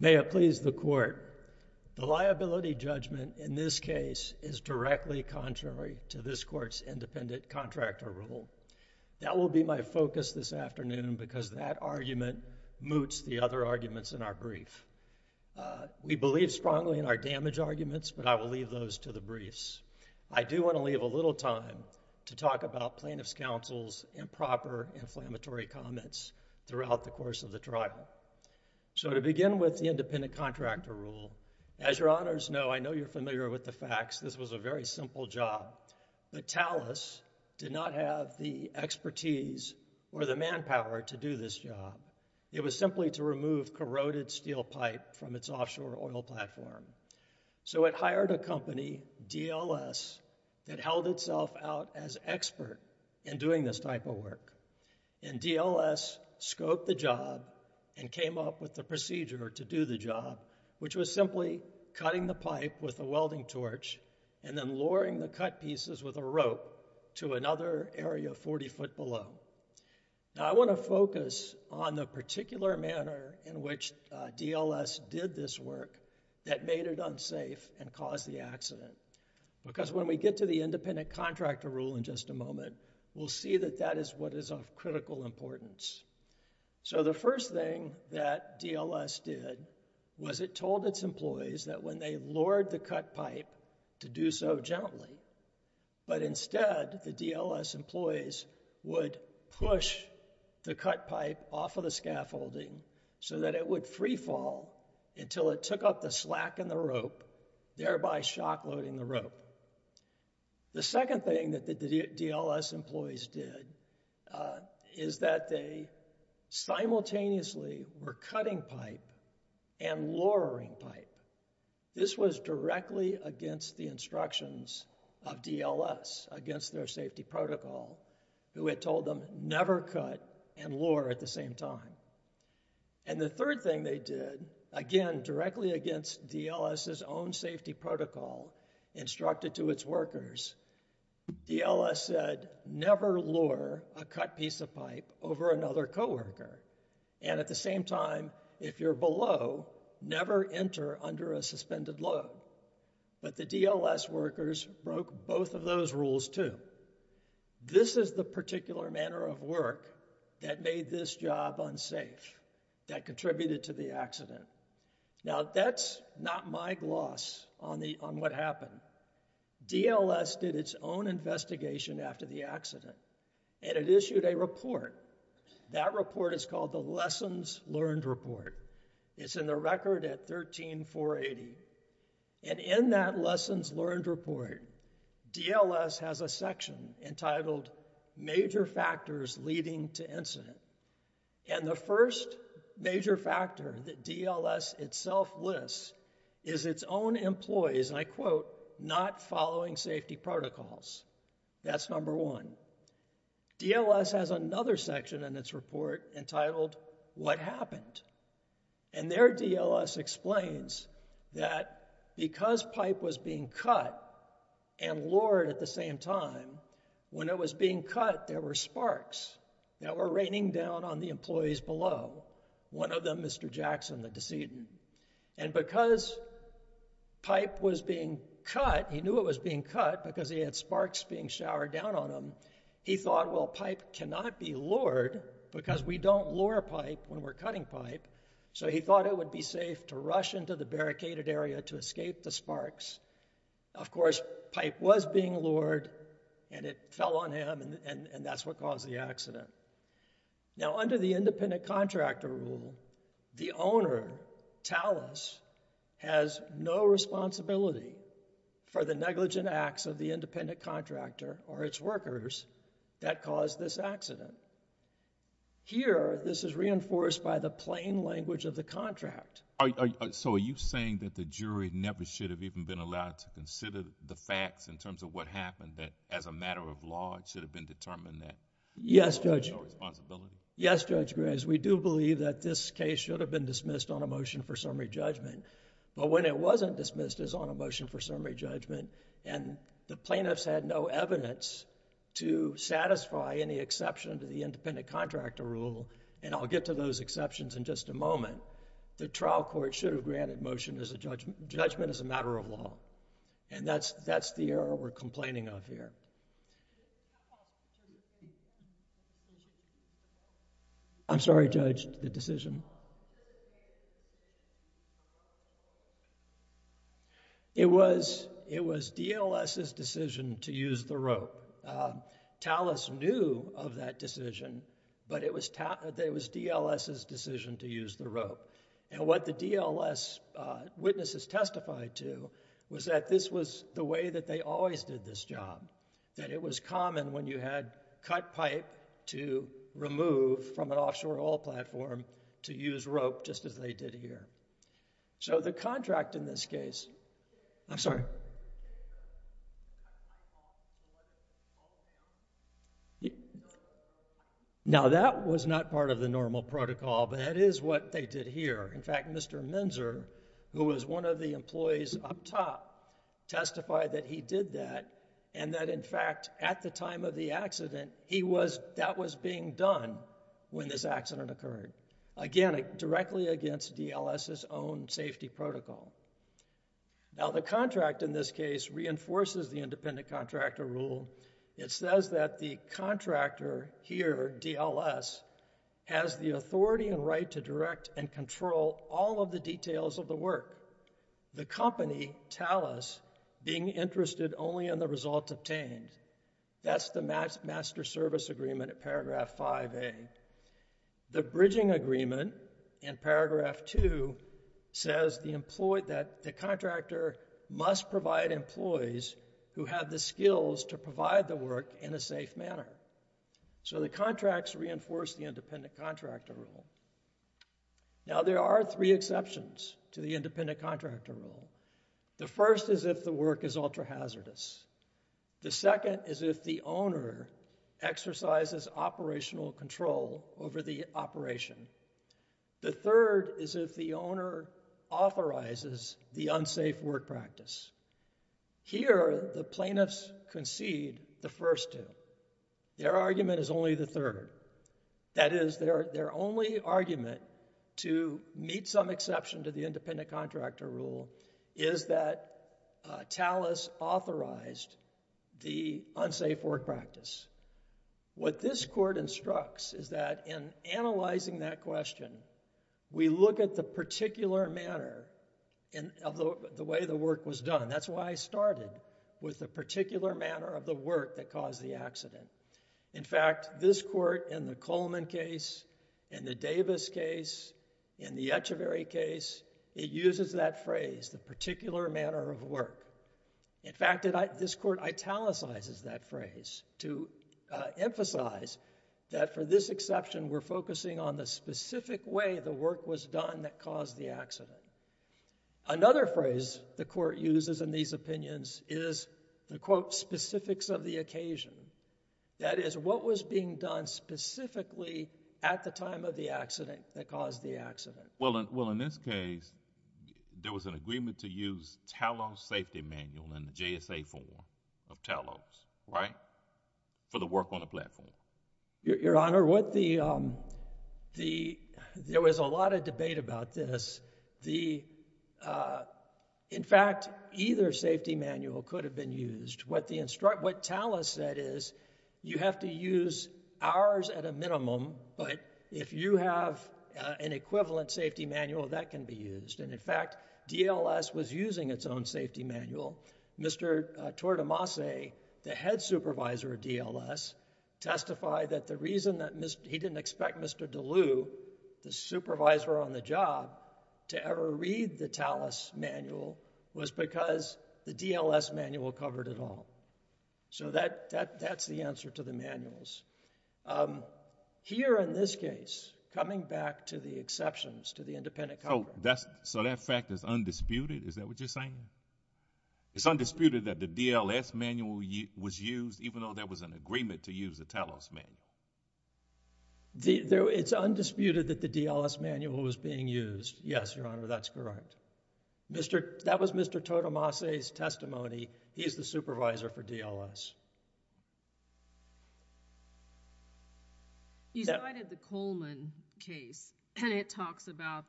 May it please the court, the liability judgment in this case is directly contrary to this court's independent contractor rule. That will be my focus this afternoon because that argument moots the other arguments in our brief. We believe strongly in our damage arguments, but I will leave those to the briefs. I do want to leave a little time to talk about plaintiff's counsel's improper inflammatory comments throughout the course of the trial. So to begin with the independent contractor rule, as your honors know, I know you're familiar with the facts, this was a very simple job. But Talos did not have the expertise or the manpower to do this job. It was simply to remove corroded steel pipe from its offshore oil platform. So it hired a company, DLS, that held itself out as expert in doing this type of work. And DLS scoped the job and came up with the procedure to do the job, which was simply cutting the pipe with a welding torch and then lowering the cut pieces with a rope to another area 40 foot below. Now I want to focus on the particular manner in which DLS did this work that made it unsafe and caused the accident. Because when we get to the independent contractor rule in just a moment, we'll see that that is what is of critical importance. So the first thing that DLS did was it told its employees that when they lowered the cut pipe to do so gently, but instead the DLS employees would push the cut pipe off of the scaffolding so that it would free fall until it took up the slack in the rope, thereby shock loading the rope. The second thing that the DLS employees did is that they simultaneously were cutting pipe and lowering pipe. This was directly against the instructions of DLS against their safety protocol, who had told them never cut and lower at the same time. And the third thing they did, again, directly against DLS's own safety protocol instructed to its workers, DLS said never lower a cut piece of pipe over another coworker. And at the same time, if you're below, never enter under a suspended load. But the DLS workers broke both of those rules, too. This is the particular manner of work that made this job unsafe, that contributed to the accident. Now, that's not my gloss on what happened. DLS did its own investigation after the accident, and it issued a report. That report is called the Lessons Learned Report. It's in the record at 13480. And in that Lessons Learned Report, DLS has a section entitled Major Factors Leading to Incident. And the first major factor that DLS itself lists is its own employees, and I quote, not following safety protocols. That's number one. DLS has another section in its report entitled What Happened? And their DLS explains that because pipe was being cut and lowered at the same time, when it was being cut, there were sparks that were raining down on the employees below, one of them Mr. Jackson, the decedent. And because pipe was being cut, he knew it was being cut because he had sparks being showered down on him, he thought, well, pipe cannot be lured because we don't lure pipe when we're cutting pipe. So he thought it would be safe to rush into the barricaded area to escape the sparks. Of course, pipe was being lured, and it fell on him, and that's what caused the accident. Now, under the independent or the negligent acts of the independent contractor or its workers, that caused this accident. Here, this is reinforced by the plain language of the contract. So, are you saying that the jury never should have even been allowed to consider the facts in terms of what happened, that as a matter of law, it should have been determined that there was no responsibility? Yes, Judge Graves. We do believe that this case should have been dismissed on a motion for summary judgment, but when it wasn't dismissed as on a motion for summary judgment, and the plaintiffs had no evidence to satisfy any exception to the independent contractor rule, and I'll get to those exceptions in just a moment, the trial court should have granted motion as a judgment as a matter of law. And that's the error we're complaining of here. I'm sorry, Judge, the decision. It was DLS's decision to use the rope. TALUS knew of that decision, but it was DLS's decision to use the rope. And what the DLS witnesses testified to was that this was the way that they always did this job, that it was common when you had cut pipe to remove from an offshore oil platform to use rope just as they did here. So the contract in this case, I'm sorry. Now that was not part of the normal protocol, but that is what they did here. In fact, Mr. Menzer, who was one of the employees up top, testified that he did that, and that in fact at the time of the accident, that was being done when this accident occurred. Again, directly against DLS's own safety protocol. Now the contract in this case reinforces the independent contractor rule. It says that the contractor here, DLS, has the authority and right to direct and control all of the details of the work. The company, TALUS, being interested only in the results obtained. That's the master service agreement at paragraph 5A. The bridging agreement in paragraph 2 says that the contractor must provide employees who have the skills to provide the work in a safe manner. So the contracts reinforce the independent contractor rule. Now there are three exceptions to the independent contractor rule. The first is if the work is ultra-hazardous. The second is if the owner exercises operational control over the operation. The third is if the owner authorizes the unsafe work practice. Here the plaintiffs concede the first two. Their argument is only the third. That is, their only argument to meet some exception to the independent contractor rule is that TALUS authorized the unsafe work practice. What this court instructs is that in analyzing that question, we look at the particular manner of the way the work was done. That's why I started with the particular manner of the work that caused the accident. In fact, this court in the Coleman case, in the Davis case, in the Echeverry case, it uses that phrase, the particular manner of work. In fact, this court italicizes that phrase to emphasize that for this exception, we're focusing on the specific way the work was done that caused the accident. Another phrase the court uses in these opinions is the quote, specifics of the occasion. That is, what was being done specifically at the time of the accident that caused the accident. Well, in this case, there was an agreement to use TALUS safety manual in the JSA form of TALUS, right, for the work on the platform. Your Honor, there was a lot of debate about this. In fact, either safety manual could have been used. What TALUS said is, you have to use ours at a minimum, but if you have an equivalent safety manual, that can be used. In fact, DLS was using its own safety manual. Mr. Tortomase, the head supervisor of DLS, testified that the reason that he didn't expect Mr. DeLue, the supervisor on the job, to ever read the TALUS manual was because the DLS manual covered it all. So that's the answer to the manuals. Here in this case, coming back to the exceptions to the independent coverage. So that fact is undisputed? Is that what you're saying? It's undisputed that the DLS manual was used even though there was an agreement to use the TALUS manual? It's undisputed that the DLS manual was being used. Yes, Your Honor, that's correct. That was Mr. Tortomase's testimony. He's the supervisor for DLS. You cited the Coleman case, and it talks about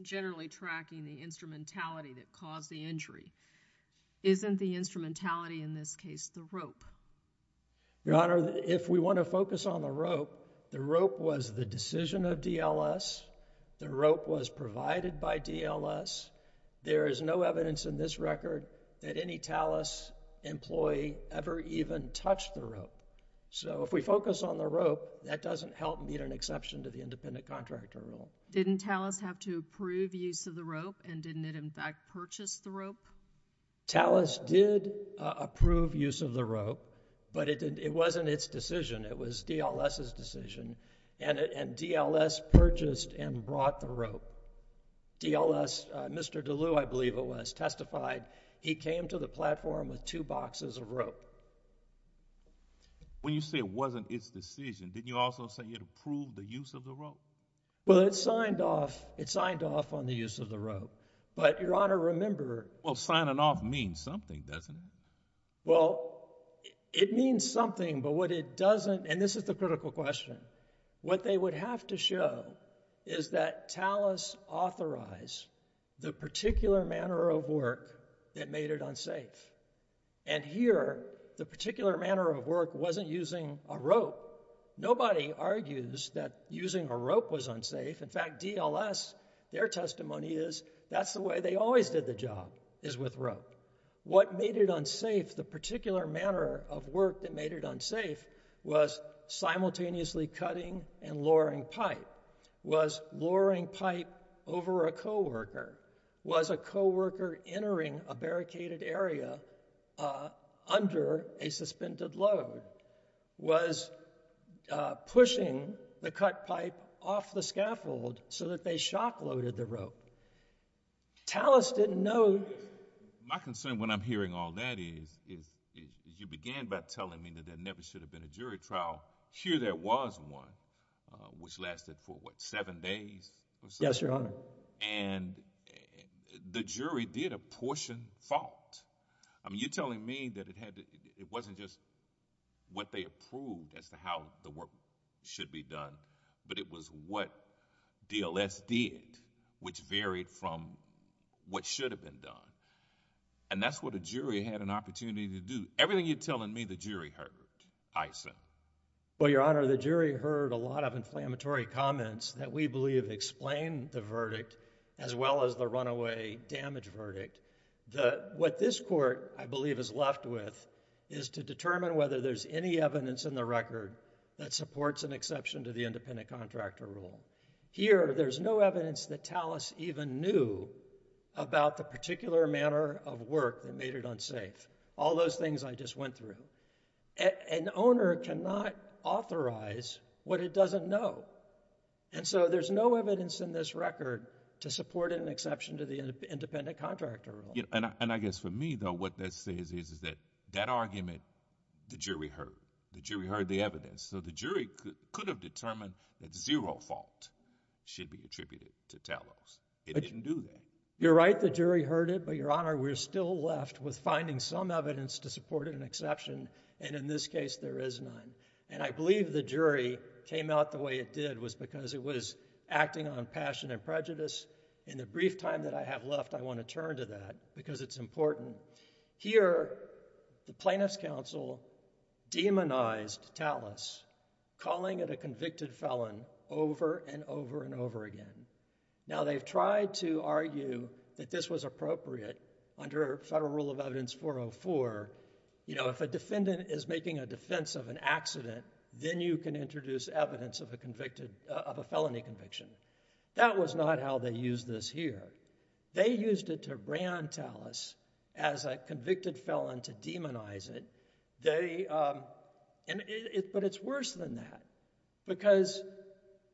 generally tracking the instrumentality that caused the injury. Isn't the instrumentality in this case the rope? Your Honor, if we want to focus on the rope, the rope was the decision of DLS, the rope was provided by DLS. There is no evidence in this record that any TALUS employee ever even touched the rope. So if we focus on the rope, that doesn't help meet an exception to the independent contractor rule. Didn't TALUS have to approve use of the rope, and didn't it in fact purchase the rope? TALUS did approve use of the rope, but it wasn't its decision. It was DLS's decision, and DLS purchased and brought the rope. DLS, Mr. DeLue, I believe it was, testified he came to the platform with two boxes of rope. When you say it wasn't its decision, didn't you also say it approved the use of the rope? Well, it signed off on the use of the rope, but Your Honor, remember... Well, signing off means something, doesn't it? Well, it means something, but what it doesn't, and this is the critical question, what they would have to show is that TALUS authorized the particular manner of work that made it unsafe. And here, the particular manner of work wasn't using a rope. Nobody argues that using a rope was unsafe. In fact, DLS, their testimony is that's the way they always did the job, is with rope. What made it unsafe, the particular manner of work that made it unsafe was simultaneously cutting and lowering pipe, was lowering pipe over a coworker, was a coworker entering a barricaded area under a suspended load, was pushing the cut pipe off the scaffold so that they shock-loaded the rope. TALUS didn't know... My concern when I'm hearing all that is, is you began by telling me that there never should have been a jury trial. Here there was one, which lasted for, what, seven days or so? Yes, Your Honor. And the jury did apportion fault. I mean, you're telling me that it had to, it wasn't just what they approved as to how the work should be done, but it was what DLS did, which varied from what should have been done. And that's what a jury had an opportunity to do. Everything you're telling me, the jury heard, I assume. Well, Your Honor, the jury heard a lot of inflammatory comments that we believe explain the verdict, as well as the runaway damage verdict. What this court, I believe, is left with is to determine whether there's any evidence in the record that supports an exception to the independent contractor rule. Here, there's no evidence that TALUS even knew about the particular manner of work that made it unsafe. All those things I just went through. An owner cannot authorize what it doesn't know. And so there's no evidence in this record to support an exception to the independent contractor rule. And I guess for me, though, what that says is that argument, the jury heard. The jury heard the evidence. So the jury could have determined that zero fault should be attributed to TALUS. It didn't do that. You're right, the jury heard it. But, Your Honor, we're still left with finding some evidence to support an exception. And in this case, there is none. And I believe the jury came out the way it did was because it was acting on passion and prejudice. In the brief time that I have left, I want to turn to that because it's important. Here, the Plaintiffs' Counsel demonized TALUS, calling it a convicted felon over and over and over again. Now, they've tried to argue that this was appropriate under Federal Rule of Evidence 404. If a defendant is making a defense of an accident, then you can introduce evidence of a felony conviction. That was not how they used this here. They used it to brand TALUS as a convicted felon to demonize it. But it's worse than that because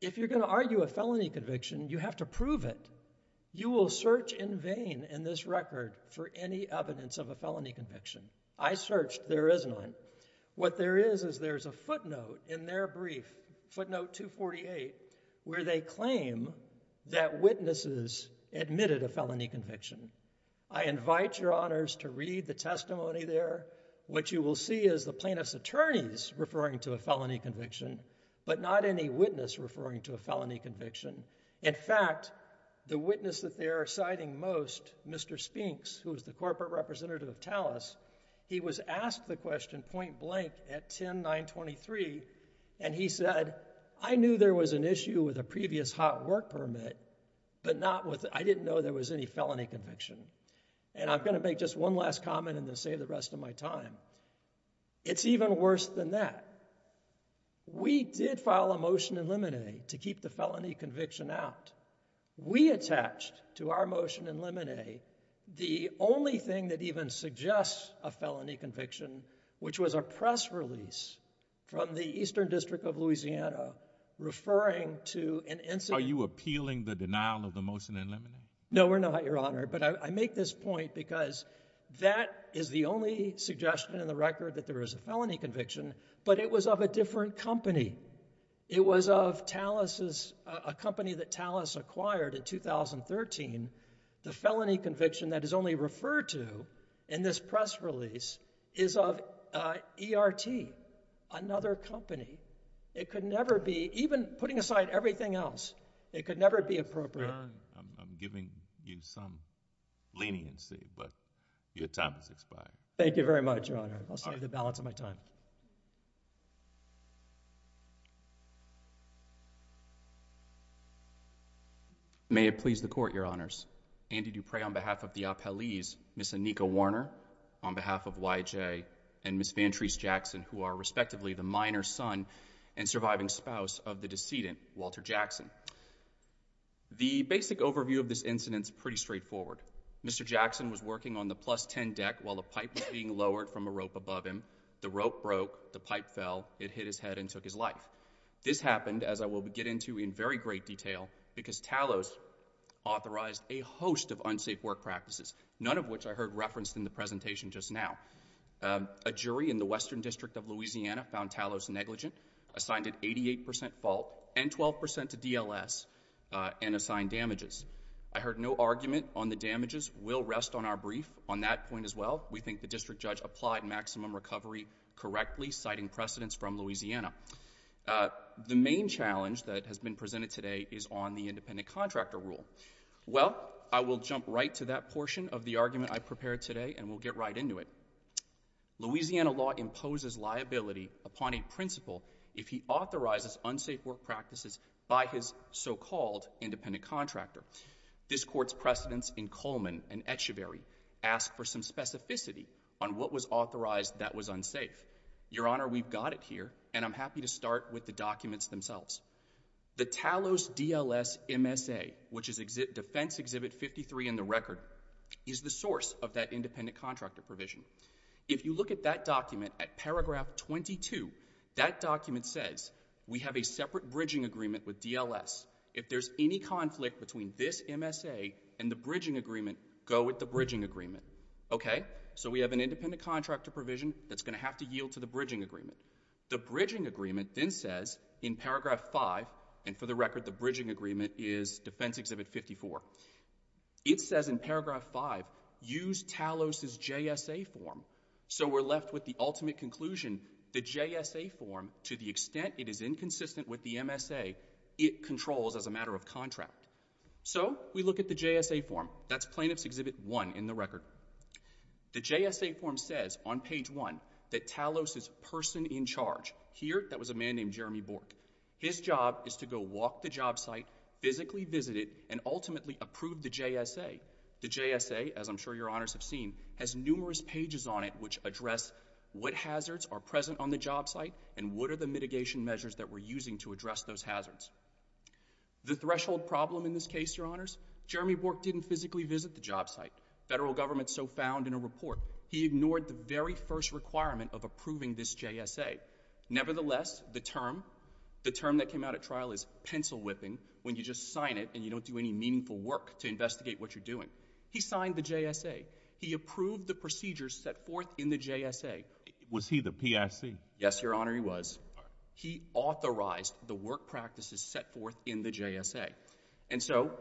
if you're going to argue a felony conviction, you have to prove it. You will search in vain in this record for any evidence of a felony conviction. I searched. There is none. What there is is there's a footnote in their brief, footnote 248, where they claim that witnesses admitted a felony conviction. I invite your honors to read the testimony there. What you will see is the plaintiff's attorneys referring to a felony conviction, but not any witness referring to a felony conviction. In fact, the witness that they are citing most, Mr. Spinks, who is the corporate representative of TALUS, he was asked the question point blank at 10-923, and he said, I knew there was an issue with a previous hot work permit, but not with, I didn't know there was any felony conviction. And I'm going to make just one last comment and then save the rest of my time. It's even worse than that. We did file a motion in limine to keep the felony conviction out. We attached to our motion in limine the only thing that even suggests a felony conviction, which was a press release from the Eastern District of Louisiana referring to an incident. Are you appealing the denial of the motion in limine? No, we're not, your honor. But I make this point because that is the only suggestion in the record that there is a felony conviction, but it was of a different company. It was of TALUS's, a company that TALUS acquired in 2013. The felony conviction that is only referred to in this press release is of ERT, another company. It could never be, even putting aside everything else, it could never be appropriate. Your honor, I'm giving you some leniency, but your time has expired. Thank you very much, your honor. I'll save the balance of my time. May it please the court, your honors. Andy Duprey on behalf of the Appellees, Ms. Anika Warner on behalf of YJ, and Ms. Vantrese Jackson, who are respectively the minor son and surviving spouse of the decedent, Walter Jackson. The basic overview of this incident is pretty straightforward. Mr. Jackson was working on the plus 10 deck while the pipe was being lowered from a rope above him. The rope broke, the pipe fell, it hit his head and took his life. This happened, as I will get into in very great detail, because TALUS authorized a host of unsafe work practices, none of which I heard referenced in the presentation just now. A jury in the Western District of Louisiana found TALUS negligent, assigned an 88 percent fault and 12 percent to DLS, and assigned damages. I heard no argument on the damages. We'll rest on our brief on that point as well. We think the district judge applied maximum recovery correctly, citing precedents from Louisiana. The main challenge that has been presented today is on the independent contractor rule. Well, I will jump right to that portion of the argument I prepared today, and we'll get right into it. Louisiana law imposes liability upon a principal if he authorizes unsafe work practices by his so-called independent contractor. This Court's precedents in Coleman and Etchevehry ask for some specificity on what was authorized that was unsafe. Your Honor, we've got it here, and I'm happy to start with the documents themselves. The TALUS DLS MSA, which is Defense Exhibit 53 in the record, is the source of that independent contractor provision. If you look at that document at paragraph 22, that document says we have a separate bridging agreement with DLS. If there's any conflict between this MSA and the bridging agreement, go with the bridging agreement. Okay? So we have an independent contractor provision that's going to have to yield to the bridging agreement. The bridging agreement then says in paragraph 5, and for the record, the bridging agreement is Defense Exhibit 54, it says in paragraph 5, use TALUS's JSA form. So we're left with the ultimate conclusion, the JSA form, to the extent it is inconsistent with the MSA, it controls as a matter of contract. So we look at the JSA form. That's Plaintiff's Exhibit 1 in the record. The JSA form says on page 1 that TALUS's person in charge here, that was a man named Jeremy Bork, his job is to go walk the job site, physically visit it, and ultimately approve the JSA. The JSA, as I'm sure your honors have seen, has numerous pages on it which address what hazards are present on the job site and what are the mitigation measures that we're using to address those hazards. The threshold problem in this case, your honors, Jeremy Bork didn't physically visit the job site. Federal government so found in a report. He ignored the very first requirement of approving this JSA. Nevertheless, the term, the term that came out at trial is pencil whipping, when you just sign it and you don't do any meaningful work to investigate what you're doing. He signed the JSA. He approved the procedures set forth in the JSA. Was he the PIC? Yes, your honor, he was. He authorized the work practices set forth in the JSA. And so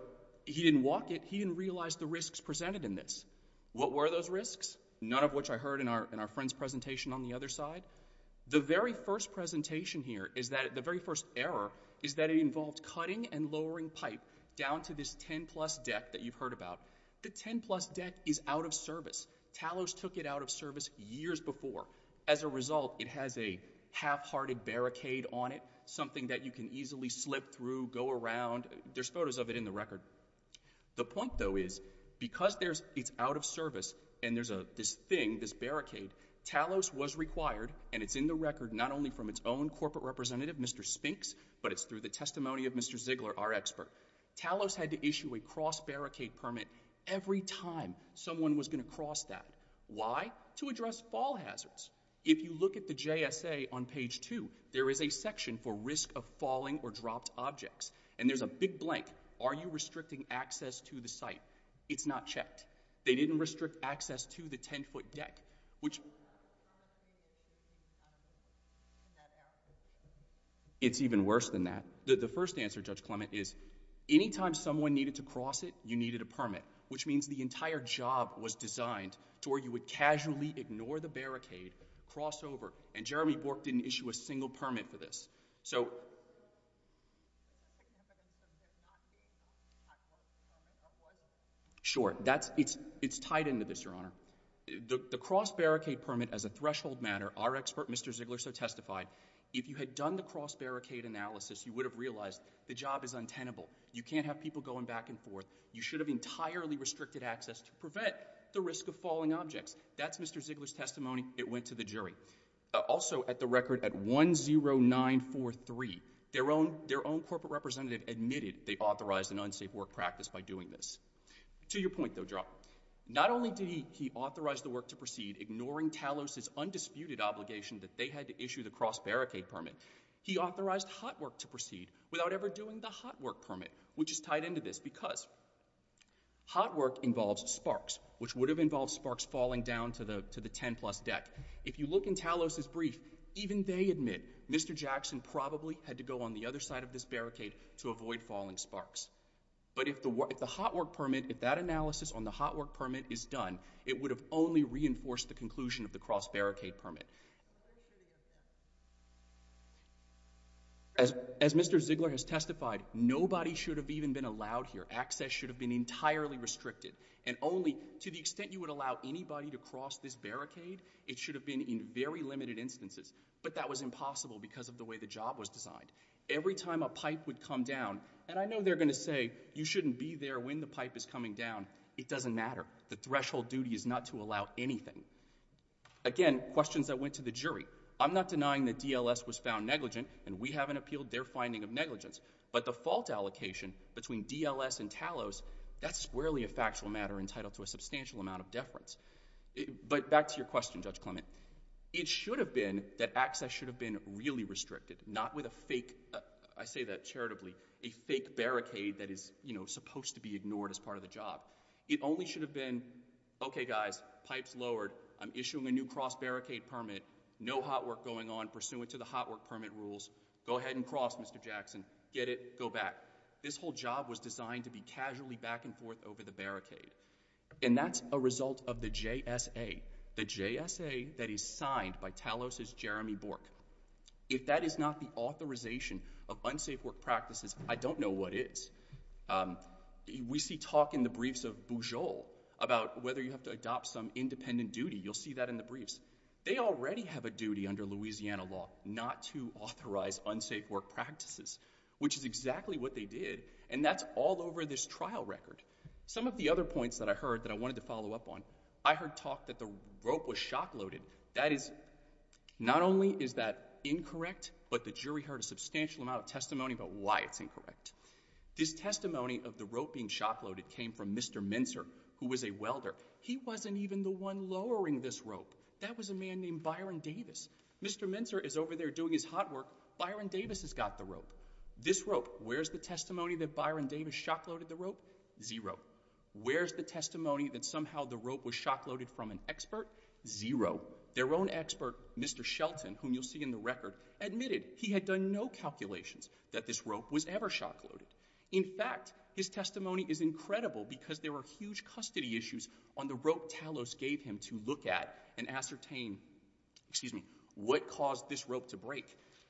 he didn't walk it, he didn't realize the risks presented in this. What were those risks? None of which I heard in our friend's presentation on the other side. The very first presentation here is that the very first error is that it involved cutting and lowering pipe down to this 10 plus deck that you've heard about. The 10 plus deck is out of service. Talos took it out of service years before. As a result, it has a half-hearted barricade on it, something that you can easily slip through, go around. There's photos of it in the record. The point though is, because it's out of service and there's this thing, this barricade, Talos was required, and it's in the record not only from its own corporate representative, Mr. Spinks, but it's through the testimony of Mr. Ziegler, our expert. Talos had to issue a cross-barricade permit every time someone was going to cross that. Why? To address fall hazards. If you look at the JSA on page 2, there is a section for risk of falling or dropped objects, and there's a big blank. Are you restricting access to the site? It's not checked. They didn't restrict access to the 10-foot deck, which... It's even worse than that. The first answer, Judge Clement, is any time someone needed to cross it, you needed a permit, which means the entire job was designed to where you would casually ignore the barricade, cross over, and Jeremy Bork didn't issue a single permit for this. So... Sure. It's tied into this, Your Honor. The cross-barricade permit as a threshold matter, our expert, Mr. Ziegler, so testified, if you had done the cross-barricade analysis, you would have realized the job is untenable. You can't have people going back and forth. You should have entirely restricted access to prevent the risk of falling objects. That's Mr. Ziegler's testimony. It went to the jury. Also, at the record, at 10943, their own corporate representative admitted they authorized an unsafe work practice by doing this. To your point, though, Joe, not only did he authorize the work to proceed, ignoring Talos's undisputed obligation that they had to issue the cross-barricade permit, he authorized hot work to proceed without ever doing the hot work permit, which is tied into this because hot work involves sparks, which would have involved sparks falling down to the 10-plus deck. If you look in Talos's brief, even they admit Mr. Jackson probably had to go on the other side of this barricade to avoid falling sparks. But if the hot work permit, if that analysis on the hot work permit is done, it would have only reinforced the conclusion of the cross-barricade permit. As Mr. Ziegler has testified, nobody should have even been allowed here. Access should have been entirely restricted. And only to the extent you would allow anybody to cross this barricade, it should have been in very limited instances. But that was impossible because of the way the job was designed. Every time a pipe would come down, and I know they're going to say, you shouldn't be there when the pipe is coming down, it doesn't matter. The threshold duty is to allow anything. Again, questions that went to the jury. I'm not denying that DLS was found negligent, and we haven't appealed their finding of negligence. But the fault allocation between DLS and Talos, that's squarely a factual matter entitled to a substantial amount of deference. But back to your question, Judge Clement. It should have been that access should have been really restricted, not with a fake, I say that charitably, a fake barricade that is supposed to be ignored as part of the job. It only should have been, okay guys, pipe's lowered, I'm issuing a new cross barricade permit, no hot work going on pursuant to the hot work permit rules, go ahead and cross, Mr. Jackson, get it, go back. This whole job was designed to be casually back and forth over the barricade. And that's a result of the JSA. The JSA that is signed by Talos's Jeremy Bork. If that is not the authorization of unsafe work practices, I don't know what is. Um, we see talk in the briefs of Bujold about whether you have to adopt some independent duty. You'll see that in the briefs. They already have a duty under Louisiana law not to authorize unsafe work practices, which is exactly what they did. And that's all over this trial record. Some of the other points that I heard that I wanted to follow up on, I heard talk that the rope was shock loaded. That is, not only is that incorrect, but the jury heard a substantial amount of testimony about why it's incorrect. This testimony of the rope being shock loaded came from Mr. Mincer, who was a welder. He wasn't even the one lowering this rope. That was a man named Byron Davis. Mr. Mincer is over there doing his hot work. Byron Davis has got the rope. This rope, where's the testimony that Byron Davis shock loaded the rope? Zero. Where's the testimony that somehow the rope was shock loaded from an expert? Zero. Their own expert, Mr. Shelton, whom you'll see in the record, admitted he had done no calculations that this rope was ever shock loaded. In fact, his testimony is incredible because there were huge custody issues on the rope Talos gave him to look at and ascertain, excuse me, what caused this rope to break.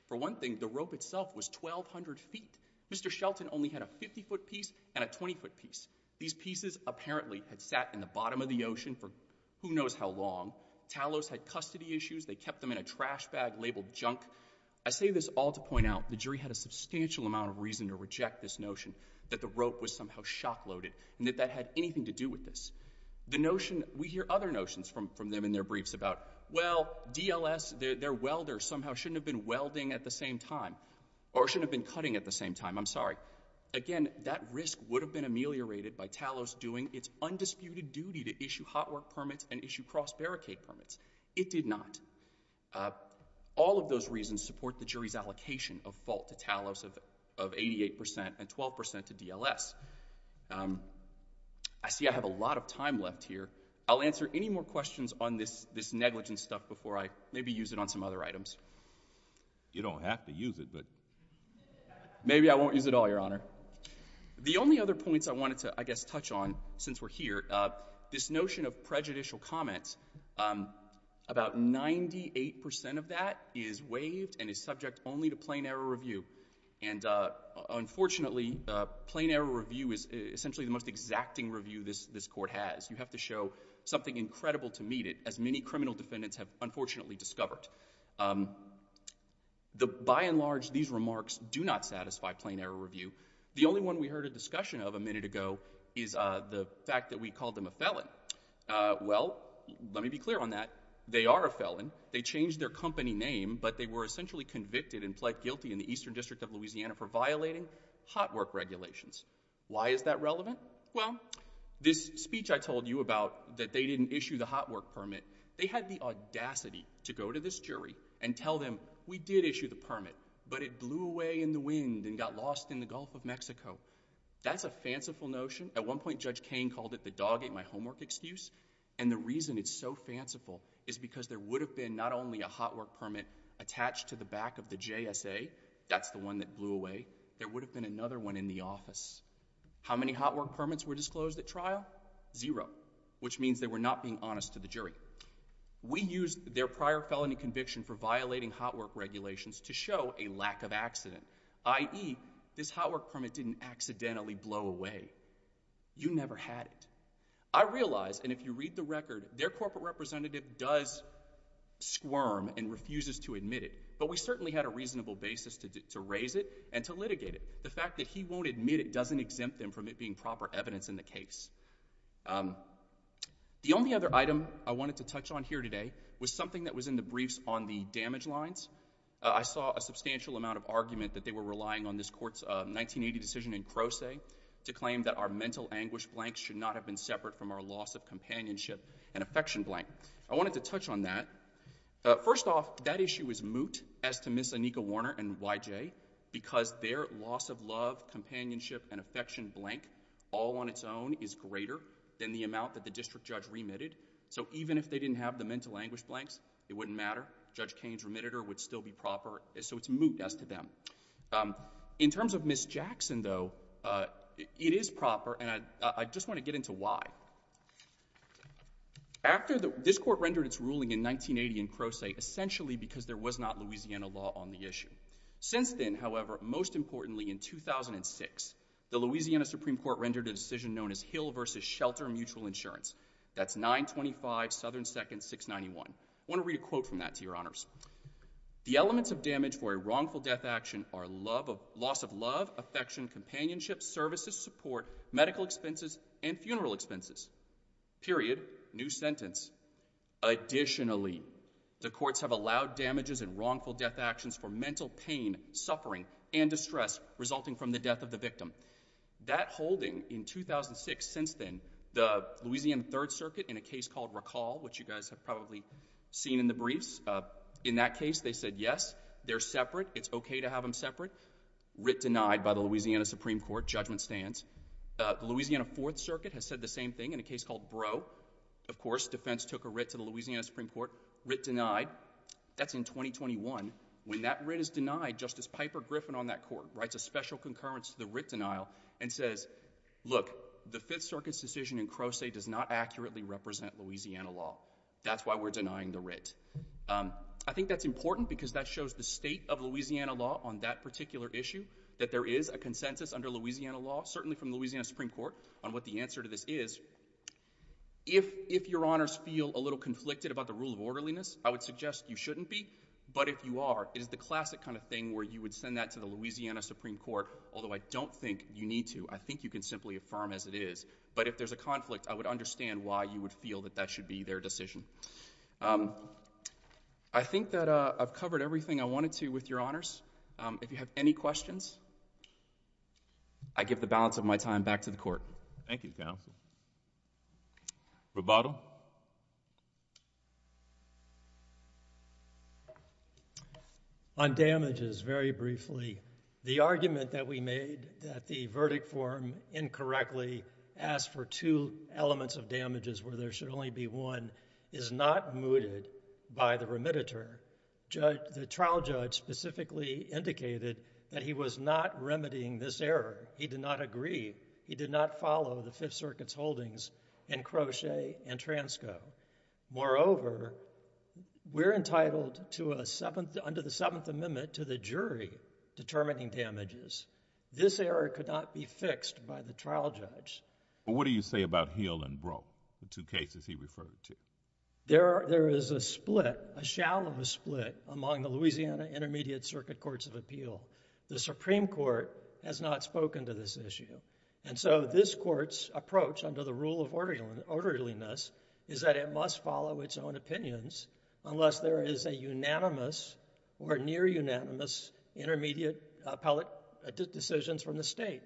For one thing, the rope itself was 1,200 feet. Mr. Shelton only had a 50-foot piece and a 20-foot piece. These pieces apparently had sat in the bottom of the ocean for who knows how long. Talos had custody issues. They kept them in a trash bag labeled junk. I say this all to point out the jury had a substantial amount of reason to reject this notion that the rope was somehow shock loaded and that that had anything to do with this. The notion, we hear other notions from them in their briefs about, well, DLS, their welder, somehow shouldn't have been welding at the same time or shouldn't have been cutting at the same time. I'm sorry. Again, that risk would have been ameliorated by Talos doing its undisputed duty to issue hot work permits and issue cross barricade permits. It did not. All of those reasons support the jury's allocation of fault to Talos of 88% and 12% to DLS. I see I have a lot of time left here. I'll answer any more questions on this negligence stuff before I maybe use it on some other items. You don't have to use it, but maybe I won't use it all, Your Honor. The only other points I wanted to, I guess, touch on since we're here. This notion of prejudicial comments, about 98% of that is waived and is subject only to plain error review. And unfortunately, plain error review is essentially the most exacting review this court has. You have to show something incredible to meet it, as many criminal defendants have unfortunately discovered. By and large, these remarks do not error review. The only one we heard a discussion of a minute ago is the fact that we called them a felon. Well, let me be clear on that. They are a felon. They changed their company name, but they were essentially convicted and pled guilty in the Eastern District of Louisiana for violating hot work regulations. Why is that relevant? Well, this speech I told you about, that they didn't issue the hot work permit, they had the audacity to go to this jury and tell them, we did issue the permit, but it blew away in the wind and got lost in the Gulf of Mexico. That's a fanciful notion. At one point, Judge Kane called it the dog ate my homework excuse. And the reason it's so fanciful is because there would have been not only a hot work permit attached to the back of the JSA, that's the one that blew away, there would have been another one in the office. How many hot work permits were disclosed at trial? Zero, which means they were not being honest to the jury. We used their prior felony conviction for violating hot work regulations to show a lack of accident, i.e. this hot work permit didn't accidentally blow away. You never had it. I realize, and if you read the record, their corporate representative does squirm and refuses to admit it, but we certainly had a reasonable basis to raise it and to litigate it. The fact that he won't admit it doesn't exempt them from it being proper evidence in the case. Um, the only other item I wanted to touch on here today was something that was in the briefs on the damage lines. I saw a substantial amount of argument that they were relying on this court's 1980 decision in Croce to claim that our mental anguish blanks should not have been separate from our loss of companionship and affection blank. I wanted to touch on that. First off, that issue is moot as to Ms. Anika Warner and YJ because their loss of love, companionship, and affection blank all on its own is greater than the amount that the district judge remitted. So even if they didn't have the mental anguish blanks, it wouldn't matter. Judge Kane's remitted her would still be proper. So it's moot as to them. Um, in terms of Ms. Jackson though, uh, it is proper and I, I just want to get into why. After the, this court rendered its ruling in 1980 in Croce essentially because there was not Louisiana law on the issue. Since then, however, most importantly in 2006, the Louisiana Supreme Court rendered a decision known as Hill versus shelter mutual insurance. That's nine 25 Southern seconds, six 91. I want to read a quote from that to your honors. The elements of damage for a wrongful death action are love of loss of love, affection, companionship, services, support, medical expenses, and funeral expenses. Period. New sentence. Additionally, the courts have allowed damages and wrongful death actions for mental pain, suffering and distress resulting from the death of the victim. That holding in 2006 since then the Louisiana third circuit in a case called recall, which you guys have probably seen in the briefs. Uh, in that case they said, yes, they're separate. It's okay to have them separate writ denied by the Louisiana Supreme Court judgment stands. Uh, the Louisiana fourth circuit has said the same thing in a case called bro. Of course, defense took a writ to the justice. Piper Griffin on that court writes a special concurrence to the writ denial and says, look, the fifth circuit's decision in Croce does not accurately represent Louisiana law. That's why we're denying the writ. Um, I think that's important because that shows the state of Louisiana law on that particular issue, that there is a consensus under Louisiana law, certainly from Louisiana Supreme Court on what the answer to this is. If, if your honors feel a little conflicted about the rule of orderliness, I would suggest you shouldn't be. But if you are, it's the classic kind of thing where you would send that to the Louisiana Supreme Court. Although I don't think you need to, I think you can simply affirm as it is. But if there's a conflict, I would understand why you would feel that that should be their decision. Um, I think that, uh, I've covered everything I wanted to with your honors. Um, if you have any questions, I give the balance of my time back to the court. Thank you. Thank you, counsel. Roboto? On damages, very briefly, the argument that we made that the verdict form incorrectly asked for two elements of damages where there should only be one is not mooted by the remediator. Judge, the trial judge specifically indicated that he was not remedying this error. He did not agree. He did not follow the Fifth Circuit's holdings in Crochet and Transco. Moreover, we're entitled to a seventh, under the Seventh Amendment, to the jury determining damages. This error could not be fixed by the trial judge. But what do you say about Hill and Brough, the two cases he referred to? There, there is a split, a shallow split among the Louisiana Intermediate Circuit Courts of Appeal. The Supreme Court has not spoken to this issue. And so, this court's approach, under the rule of orderliness, is that it must follow its own opinions unless there is a unanimous or near unanimous intermediate appellate decisions from the state.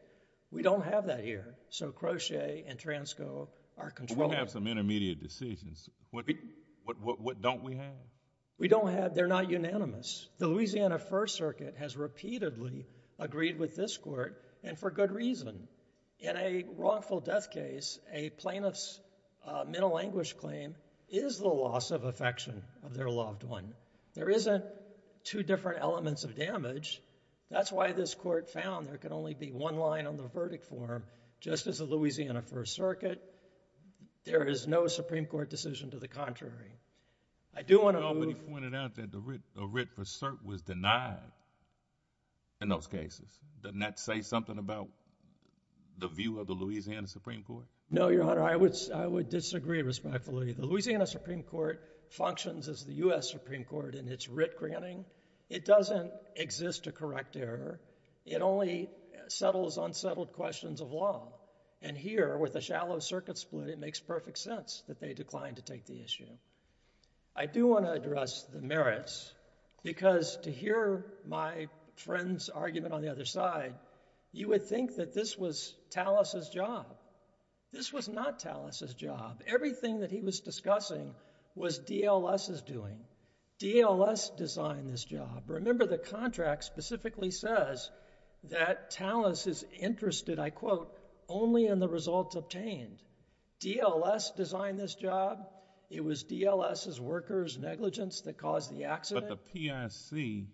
We don't have that here. So, Crochet and Transco are controlled. But we have some intermediate decisions. What, what, what don't we have? We don't have, they're not unanimous. The Louisiana First Circuit has repeatedly agreed with this court, and for good reason. In a wrongful death case, a plaintiff's mental anguish claim is the loss of affection of their loved one. There isn't two different elements of damage. That's why this court found there can only be one line on the verdict form. Just as the Louisiana First Circuit, there is no Supreme Court decision to the contrary. I do want to move— Was denied in those cases. Doesn't that say something about the view of the Louisiana Supreme Court? No, Your Honor, I would disagree respectfully. The Louisiana Supreme Court functions as the U.S. Supreme Court in its writ granting. It doesn't exist to correct error. It only settles unsettled questions of law. And here, with a shallow circuit split, it makes perfect sense that they declined to take the issue. I do want to address the merits, because to hear my friend's argument on the other side, you would think that this was Talas's job. This was not Talas's job. Everything that he was discussing was DLS's doing. DLS designed this job. Remember, the contract specifically says that Talas is interested, I quote, only in the results obtained. DLS designed this job. It was DLS's workers' negligence that caused the accident. But the PIC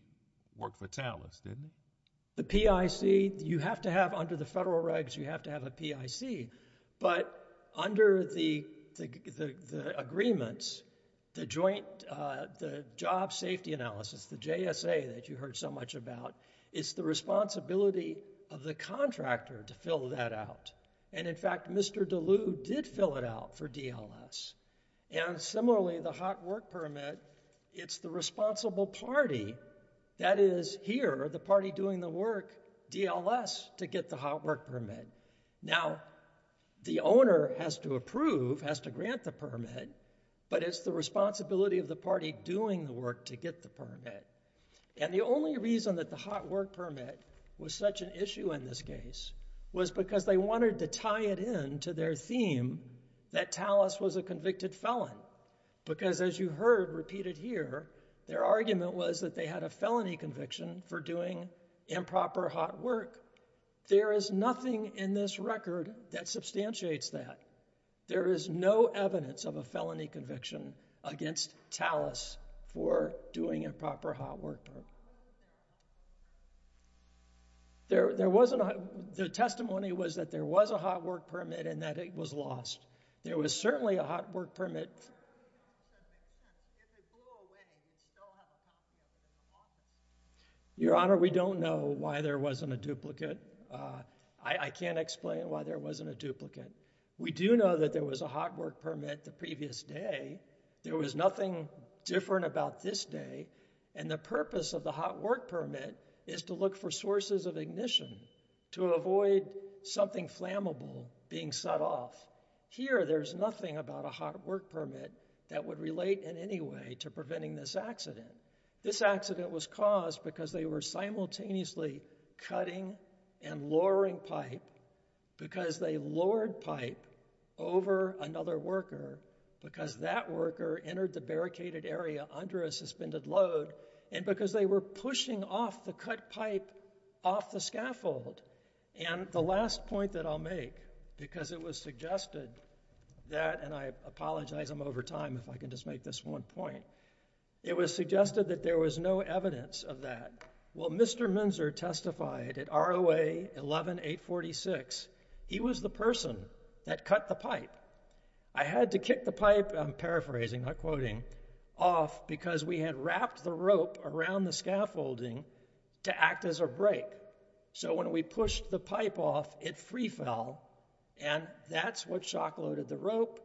worked for Talas, didn't it? The PIC, you have to have—under the federal regs, you have to have a PIC. But under the agreements, the job safety analysis, the JSA that you heard so much about, it's the responsibility of the contractor to fill that out. And in fact, Mr. DeLue did fill it out for DLS. And similarly, the hot work permit, it's the responsible party that is here, the party doing the work, DLS, to get the hot work permit. Now, the owner has to approve, has to grant the permit, but it's the responsibility of the party doing the work to get the permit. And the only reason that the hot work permit was such an issue in this case was because they wanted to tie it in to their theme that Talas was a convicted felon. Because as you heard repeated here, their argument was that they had a felony conviction for doing improper hot work. There is nothing in this record that substantiates that. There is no evidence of a felony conviction against Talas for doing improper hot work. There wasn't a, the testimony was that there was a hot work permit and that it was lost. There was certainly a hot work permit. Your Honor, we don't know why there wasn't a duplicate. I can't explain why there wasn't a duplicate. We do know that there was a hot work permit the previous day. There was nothing different about this day. And the purpose of the hot work permit is to look for sources of ignition, to avoid something flammable being set off. Here, there's nothing about a hot work permit that would relate in any way to preventing this accident. This accident was caused because they were simultaneously cutting and lowering pipe, because they lowered pipe over another worker, because that worker entered the barricaded area under a suspended load, and because they were pushing off the cut pipe off the scaffold. And the last point that I'll make, because it was suggested that, and I apologize I'm over time if I can just make this one point, it was suggested that there was no evidence of that. Well, Mr. Minzer testified at ROA 11846. He was the person that cut the pipe. I had to kick the pipe, I'm paraphrasing, not quoting, off because we had wrapped the rope around the scaffolding to act as a brake. So when we pushed the pipe off, it free fell, and that's what shock loaded the rope.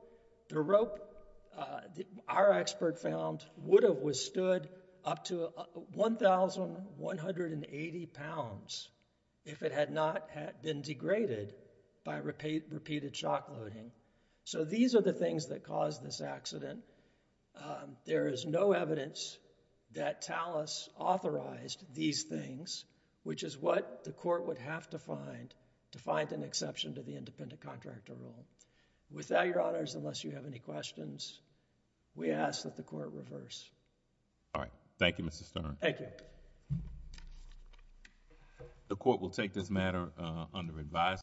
The rope, our expert found, would have withstood up to 1,180 pounds if it had not been degraded by repeated shock loading. So these are the things that caused this accident. There is no evidence that TALAS authorized these things, which is what the court would have to find to find an exception to the independent reverse. All right. Thank you, Mr. Stern. Thank you. The court will take this matter under advisory.